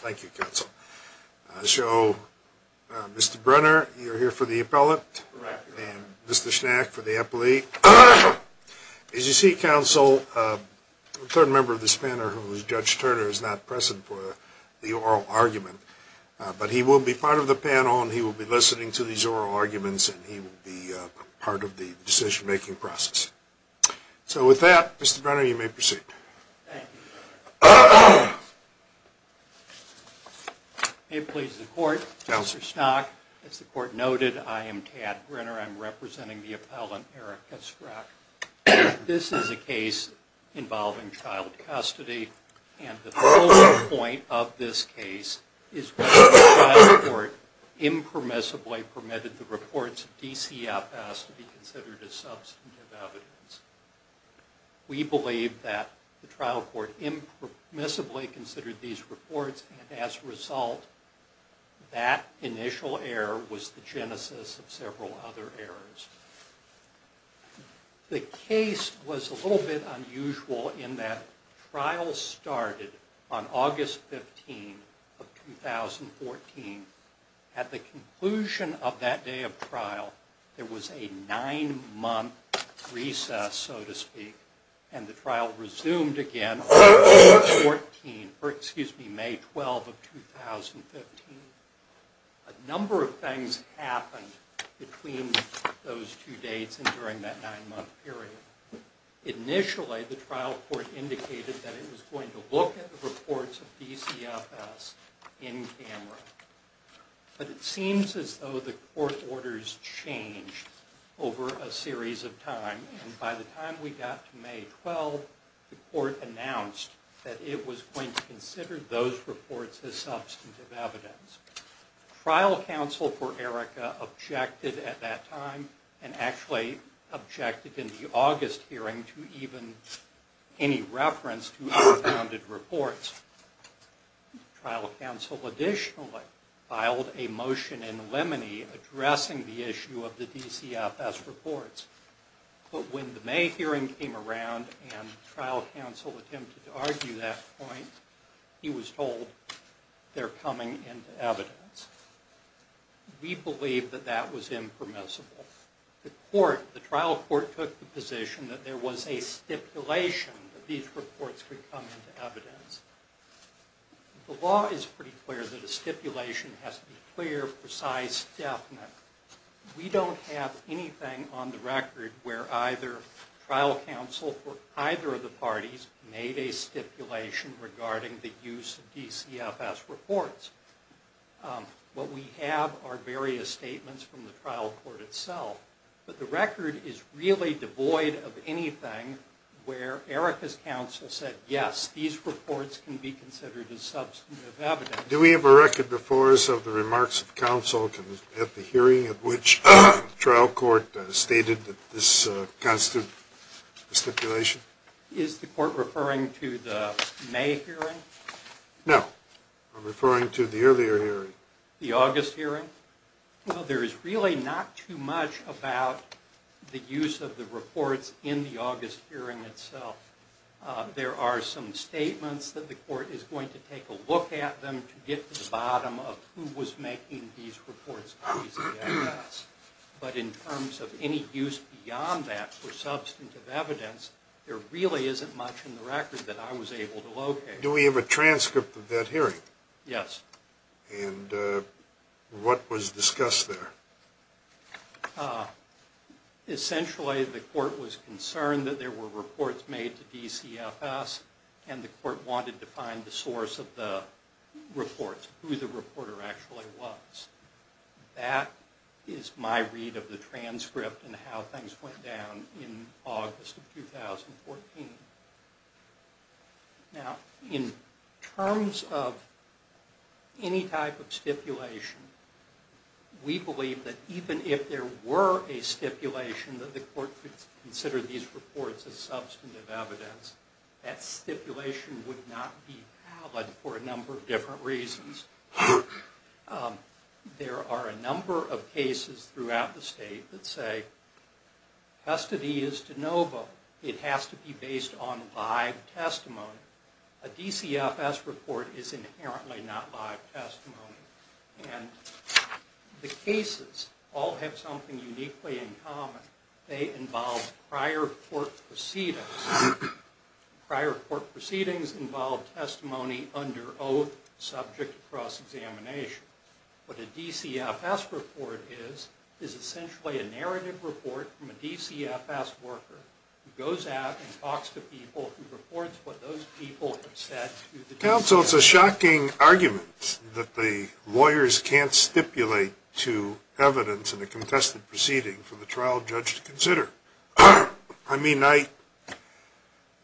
Thank you, Counsel. So, Mr. Brenner, you're here for the appellate, and Mr. Schnack for the appellate. As you see, Counsel, a third member of this panel, Judge Turner, is not present for the oral argument, but he will be part of the panel and he will be listening to these oral arguments and he will be part of the decision-making process. So, with that, Mr. Brenner, you may proceed. Thank you, Counselor. It pleases the Court, Counselor Schnack. As the Court noted, I am Tad Brenner. I'm representing the appellant, Eric Schreacke. This is a case involving child custody, and the focal point of this case is whether the child court impermissibly permitted the reports of DCFS to be considered as substantive evidence. We believe that the trial court impermissibly considered these reports, and as a result, that initial error was the genesis of several other errors. The case was a little bit unusual in that trials started on August 15th of 2014. At the conclusion of that day of trial, there was a nine-month recess, so to speak, and the trial resumed again on May 12th of 2015. A number of things happened between those two dates and during that nine-month period. Initially, the trial court indicated that it was going to look at the reports of DCFS in camera, but it seems as though the court orders changed over a series of time, and by the time we got to May 12th, the court announced that it was going to consider those reports as substantive evidence. Trial counsel for Erica objected at that time, and actually objected in the absence of any reference to the reports. Trial counsel additionally filed a motion in limine addressing the issue of the DCFS reports, but when the May hearing came around and trial counsel attempted to argue that point, he was told they're coming into evidence. We believe that that was impermissible. The trial court took the position that there was a stipulation that these reports could come into evidence. The law is pretty clear that a stipulation has to be clear, precise, definite. We don't have anything on the record where either trial counsel for either of the parties made a stipulation regarding the use of DCFS reports. What we have are various statements from the trial court itself, but the record is really devoid of anything where Erica's counsel said, yes, these reports can be considered as substantive evidence. Do we have a record before us of the remarks of counsel at the hearing at which trial court stated that this constitute a stipulation? Is the court referring to the May hearing? No. I'm referring to the earlier hearing. The August hearing? Well, there is really not too much about the use of the reports in the August hearing itself. There are some statements that the court is going to take a look at them to get to the bottom of who was making these reports on DCFS. But in terms of any use beyond that for substantive evidence, there really isn't much in the record that I was able to locate. Do we have a transcript of that hearing? Yes. And what was discussed there? Essentially the court was concerned that there were reports made to DCFS and the court wanted to find the source of the reports, who the reporter actually was. That is my read of the transcript and how things went down in August of 2014. Now, in terms of any type of stipulation, we believe that even if there were a stipulation that the court could consider these reports as substantive evidence, that stipulation would not be valid for a number of different reasons. There are a number of cases throughout the state that say custody is de novo. It has to be based on live testimony. A DCFS report is inherently not live testimony. And the cases all have something uniquely in common. They involve prior court proceedings. Prior court proceedings. They are subject to cross-examination. What a DCFS report is, is essentially a narrative report from a DCFS worker who goes out and talks to people and reports what those people have said to the DCFS. Counsel, it's a shocking argument that the lawyers can't stipulate to evidence in a contested proceeding for the trial judge to consider. I mean, I, you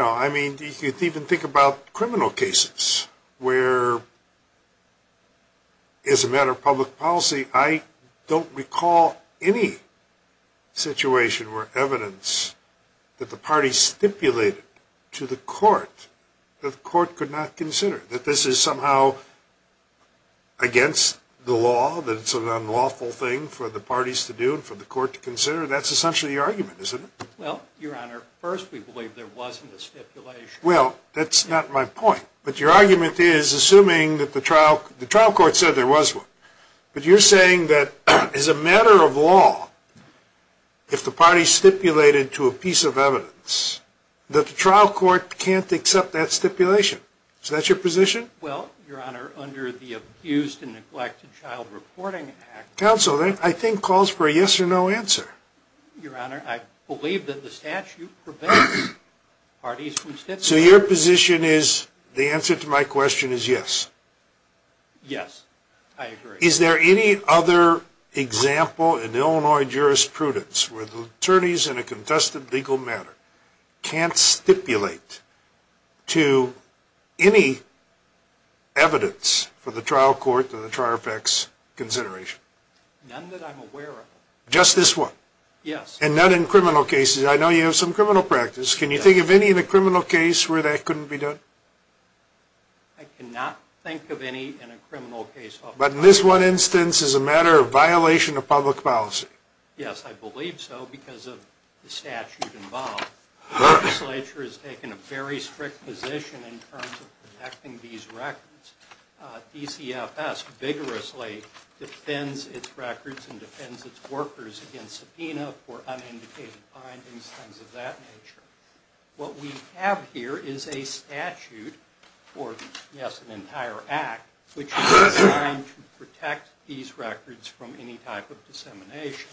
know, I mean, you can even think about criminal cases where, as a matter of public policy, I don't recall any situation where evidence that the parties stipulated to the court that the court could not consider. That this is somehow against the law, that it's an unlawful thing for the parties to do and for the court to consider. That's essentially the argument, isn't it? Well, Your Honor, first we believe there wasn't a stipulation. Well, that's not my point. But your argument is, assuming that the trial, the trial court said there was one. But you're saying that as a matter of law, if the parties stipulated to a piece of evidence, that the trial court can't accept that stipulation. Is that your position? Well, Your Honor, under the Abused and Neglected Child Reporting Act... Counsel, that I think calls for a yes or no answer. Your Honor, I believe that the statute prevents parties from stipulating. So your position is, the answer to my question is yes? Yes, I agree. Is there any other example in Illinois jurisprudence where the attorneys in a contested legal matter can't stipulate to any evidence for the trial court or the trial effects consideration? None that I'm aware of. Just this one? Yes. And not in criminal cases? I know you have some criminal practice. Can you think of any in a criminal case where that couldn't be done? I cannot think of any in a criminal case. But in this one instance, as a matter of violation of public policy? Yes, I believe so, because of the statute involved. The legislature has taken a very strict position in terms of protecting these records. DCFS vigorously defends its records and defends its workers against subpoena for unindicated findings, things of that nature. What we have here is a statute, or yes, an entire act, which is designed to protect these records from any type of dissemination.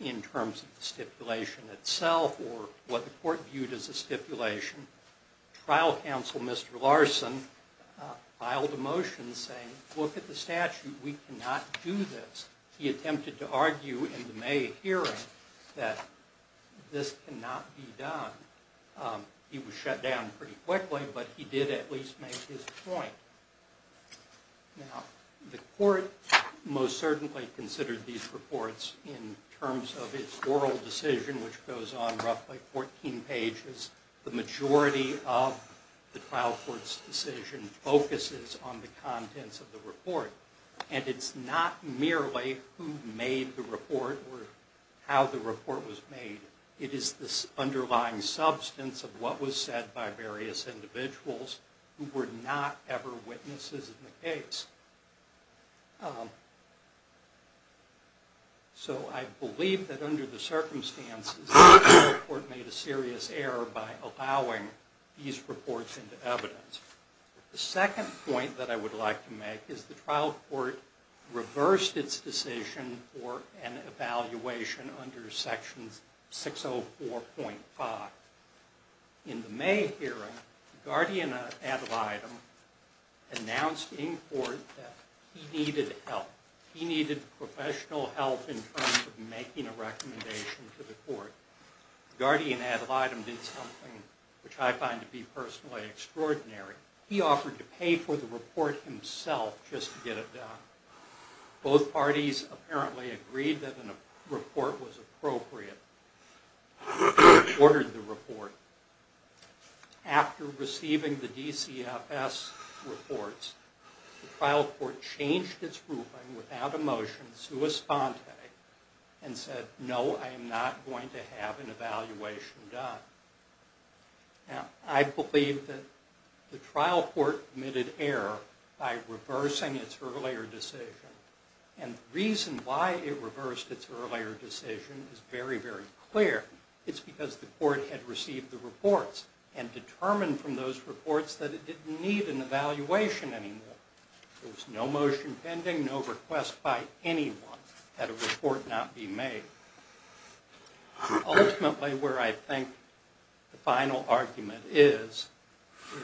In terms of the stipulation itself, or what the court viewed as a stipulation, trial counsel, Mr. Larson, filed a motion saying, look at the statute. We cannot do this. He attempted to argue in the May hearing that this cannot be done. He was shut down pretty quickly, but he did at least make his point. Now, the court most certainly considered these reports in terms of its oral decision, which goes on roughly 14 pages. The majority of the trial court's decision focuses on the report, and it's not merely who made the report or how the report was made. It is the underlying substance of what was said by various individuals who were not ever witnesses in the case. So I believe that under the circumstances, the court made a serious error by allowing these reports into evidence. The second point that I would like to make is the trial court reversed its decision for an evaluation under Section 604.5. In the May hearing, the guardian ad litem announced in court that he needed help. He needed professional help in terms of making a recommendation to the court. The guardian ad litem did something which I find to be personally extraordinary. He offered to pay for the report himself just to get it done. Both parties apparently agreed that a report was appropriate, ordered the report. After receiving the DCFS reports, the trial court changed its ruling without a motion in sua sponte and said, no, I am not going to have an evaluation done. Now, I believe that the trial court committed error by reversing its earlier decision, and the reason why it reversed its earlier decision is very, very clear. It's because the court had received the reports and determined from those reports that it didn't need an evaluation anymore. There was no motion pending, no request by anyone had a report not be made. Ultimately, where I think the final argument is,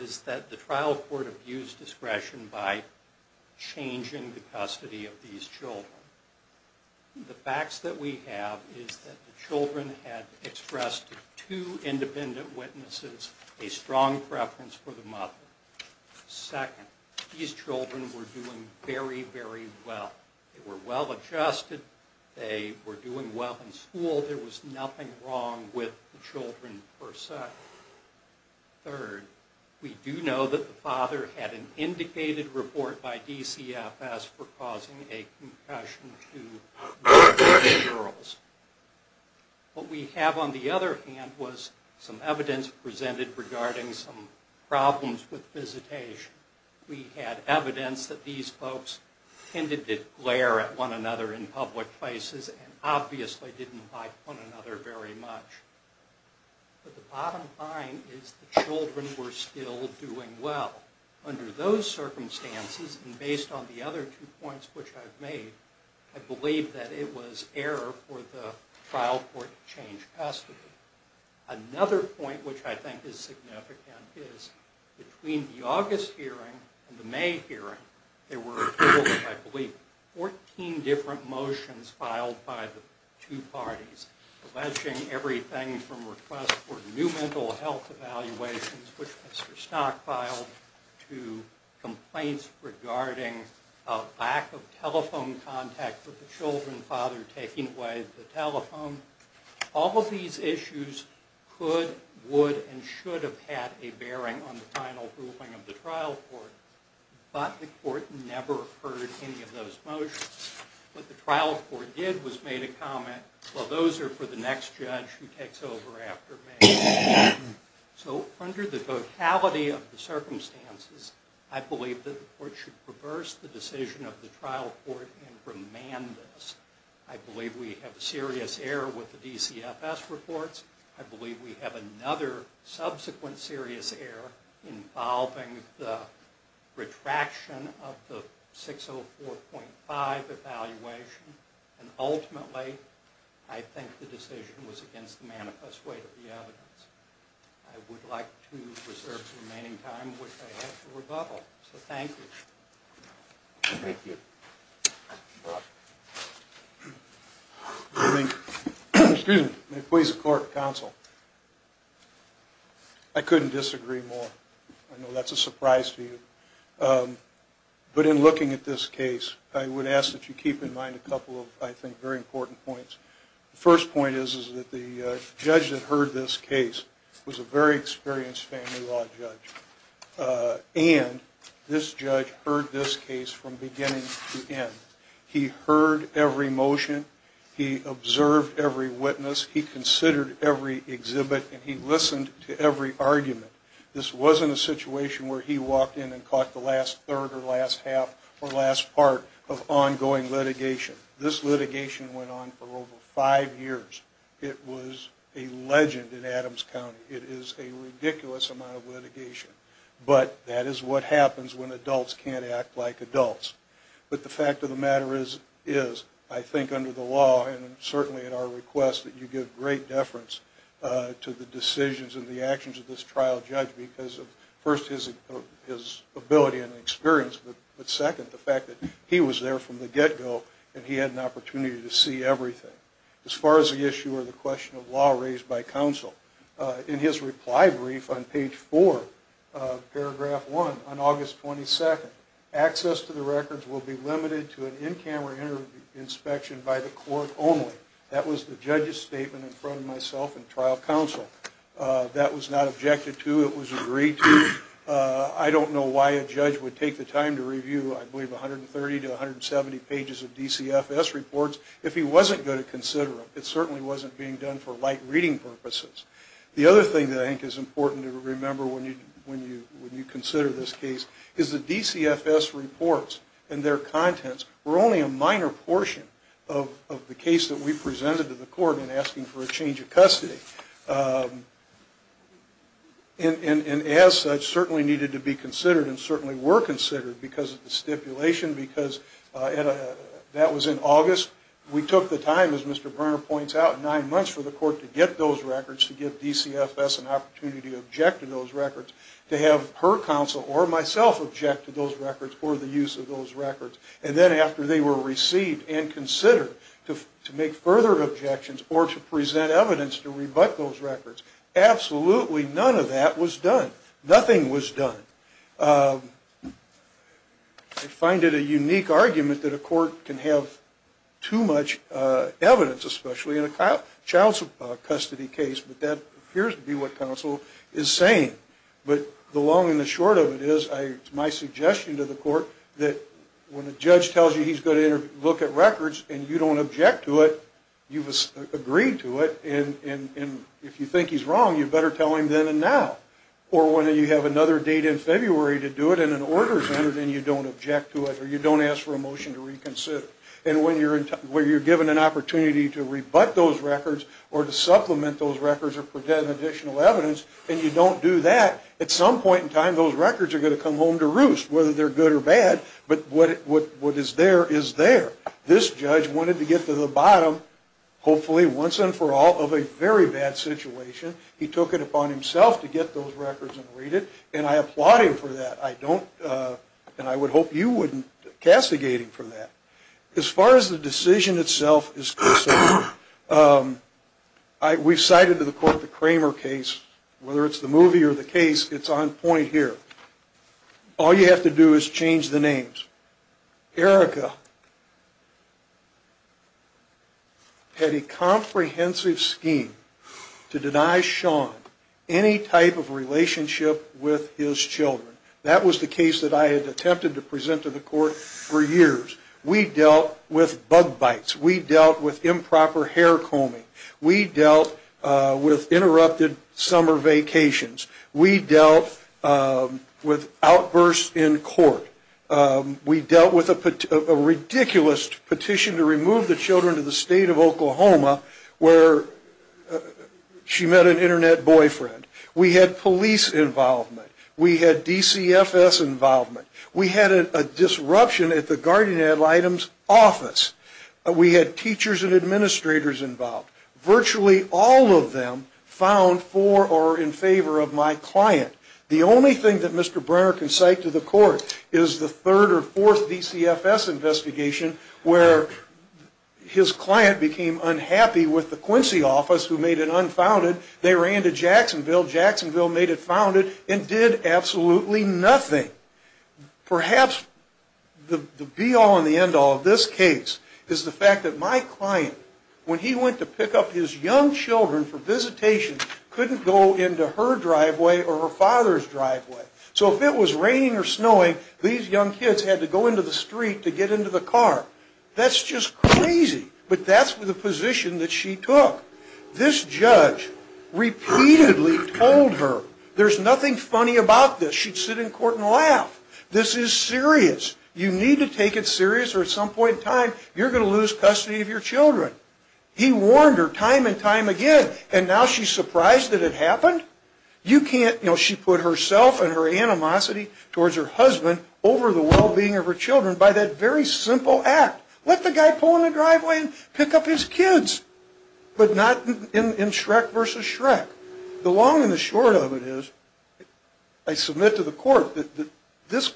is that the trial court abused discretion by changing the custody of these children. The facts that we have is that the children had expressed to two independent witnesses a strong preference for the mother. Second, these children were doing very, very well. They were well adjusted, they were doing well in school, there was nothing wrong with the children per se. Third, we do know that the father had an indicated report by DCFS for causing a concussion to one of the girls. What we have on the other hand was some evidence presented regarding some problems with visitation. We had evidence that these folks tended to glare at one another in public places and obviously didn't like one another very much. But the bottom line is the children were still doing well. Under those circumstances, and based on the other two points which I've made, I believe that it was error for the trial court to change custody. Another point which I think is significant is between the August hearing and the May hearing, there were, I believe, 14 different motions filed by the two parties alleging everything from requests for new mental health evaluations, which Mr. Stock filed, to complaints regarding a lack of telephone contact with the children, the father taking away the telephone. All of these issues could, would, and should have had a bearing on the final ruling of the trial court, but the court never heard any of those motions. What the trial court did was made a comment, well those are for the next judge who takes over after May. So under the totality of the circumstances, I believe that the court should reverse the decision of the trial court and remand this. I believe we have serious error with the DCFS reports. I believe we have another subsequent serious error involving the retraction of the 604.5 evaluation, and ultimately I think the decision was against the manifest weight of the evidence. I would like to reserve the remaining time which I have for rebuttal. So thank you. Thank you. May it please the court and counsel. I couldn't disagree more. I know that's a surprise to you. But in looking at this case, I would ask that you keep in mind a couple of, I think, very important points. The first point is that the judge that heard this case was a very experienced family law judge. And this judge heard this case from beginning to end. He heard every motion, he observed every witness, he considered every exhibit, and he listened to every argument. This wasn't a situation where he walked in and caught the last third or last half or last part of ongoing litigation. This litigation went on for over five years. It was a legend in Adams County. It is a ridiculous amount of litigation. But that is what happens when adults can't act like adults. But the fact of the matter is, I think under the law and certainly at our request that you give great deference to the decisions and the actions of this trial judge because of, first, his ability and experience, but second, the fact that he was there from the get-go and he had an opportunity to see everything. As far as the issue or the question of law raised by counsel, in his reply brief on page four, paragraph one, on August 22nd, access to the records will be limited to an in-camera inspection by the court only. That was the judge's statement in front of myself and trial counsel. That was not objected to. It was agreed to. I don't know why a judge would take the time to review, I believe, 130 to 170 pages of DCFS reports if he wasn't going to consider them. It certainly wasn't being done for light reading purposes. The other thing that I think is important to remember when you consider this case is the DCFS reports and their contents were only a minor portion of the case that we presented to the court in asking for a change of custody. And as such, certainly needed to be considered and certainly were considered because of the stipulation because that was in August. We took the time, as Mr. Brunner points out, nine months for the court to get those records, to give DCFS an opportunity to object to those records, to have her counsel or myself object to those records or the use of those records. And then after they were received and considered to make further objections or to present evidence to rebut those records. Absolutely none of that was done. Nothing was done. I find it a unique argument that a court can have too much evidence, especially in a child's custody case, but that appears to be what counsel is saying. But the long and the short of it is my suggestion to the court that when a judge tells you he's going to look at records and you don't object to it, you've agreed to it, and if you think he's wrong, you better tell him then and now. Or when you have another date in February to do it and an order is entered and you don't object to it or you don't ask for a motion to reconsider. And when you're given an opportunity to rebut those records or to supplement those records or present additional evidence and you don't do that, at some point in time those records are going to come home to roost whether they're good or bad. But what is there is there. This judge wanted to get to the bottom, hopefully once and for all, of a very bad situation. He took it upon himself to get those records and read it. And I applaud him for that. I don't, and I would hope you wouldn't castigate him for that. As far as the decision itself is concerned, we've cited to the court the point here. All you have to do is change the names. Erica had a comprehensive scheme to deny Sean any type of relationship with his children. That was the case that I had attempted to present to the court for years. We dealt with bug bites. We dealt with improper hair combing. We dealt with interrupted summer vacations. We dealt with outbursts in court. We dealt with a ridiculous petition to remove the children to the state of Oklahoma where she met an Internet boyfriend. We had police involvement. We had DCFS involvement. We had a disruption at the guardian ad litem's office. We had teachers and administrators involved. Virtually all of them found for or in favor of my client. The only thing that Mr. Brenner can cite to the court is the third or fourth DCFS investigation where his client became unhappy with the Quincy office who made it unfounded. They ran to Jacksonville. Jacksonville made it founded and did absolutely nothing. Perhaps the be all and the end all of this case is the fact that my client, when he went to Jacksonville, his own children for visitation couldn't go into her driveway or her father's driveway. So if it was raining or snowing, these young kids had to go into the street to get into the car. That's just crazy. But that's the position that she took. This judge repeatedly told her there's nothing funny about this. She'd sit in court and laugh. This is serious. You need to take it serious or at some point in time you're going to lose custody of your children. He warned her time and time again and now she's surprised that it happened? You can't, you know, she put herself and her animosity towards her husband over the well-being of her children by that very simple act. Let the guy pull in the driveway and pick up his kids. But not in Shrek versus Shrek. The long and the short of it is I submit to the court that this is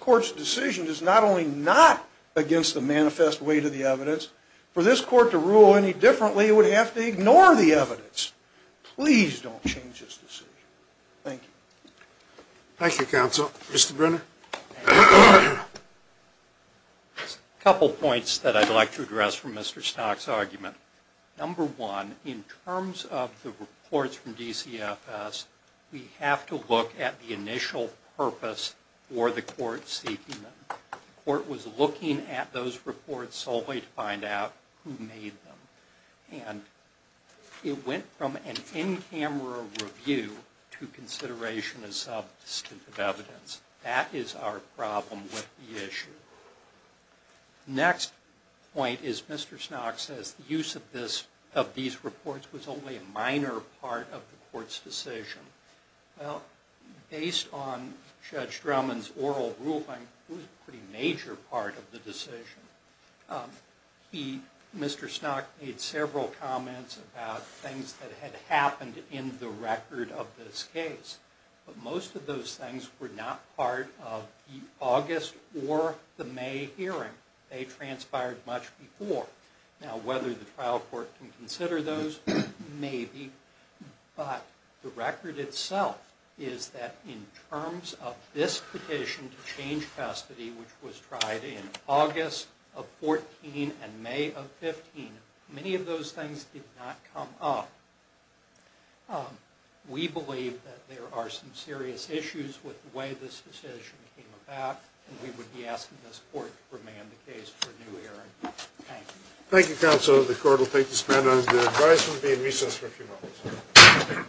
the manifest way to the evidence. For this court to rule any differently it would have to ignore the evidence. Please don't change this decision. Thank you. Thank you, counsel. Mr. Brenner? A couple points that I'd like to address from Mr. Stock's argument. Number one, in terms of the reports from DCFS, we have to look at the initial purpose for the court seeking them. The court was looking at those reports solely to find out who made them. And it went from an in-camera review to consideration as substantive evidence. That is our problem with the issue. The next point is Mr. Stock says the use of these reports was only a minor part of the court's decision. Well, based on Judge Drummond's oral ruling, it was a pretty major part of the decision. Mr. Stock made several comments about things that had happened in the record of this case. But most of those things were not part of the August or the May hearing. They transpired much before. Now, whether the trial court can consider those, maybe. But the record itself is that in terms of this petition to change custody, which was tried in August of 2014 and May of 2015, many of those things did not come up. We believe that there are some serious issues with the way this decision came about, and we would be asking this court to remand the case for a new hearing. Thank you. Thank you, counsel. The court will take this matter under advisement and be in recess for a few moments.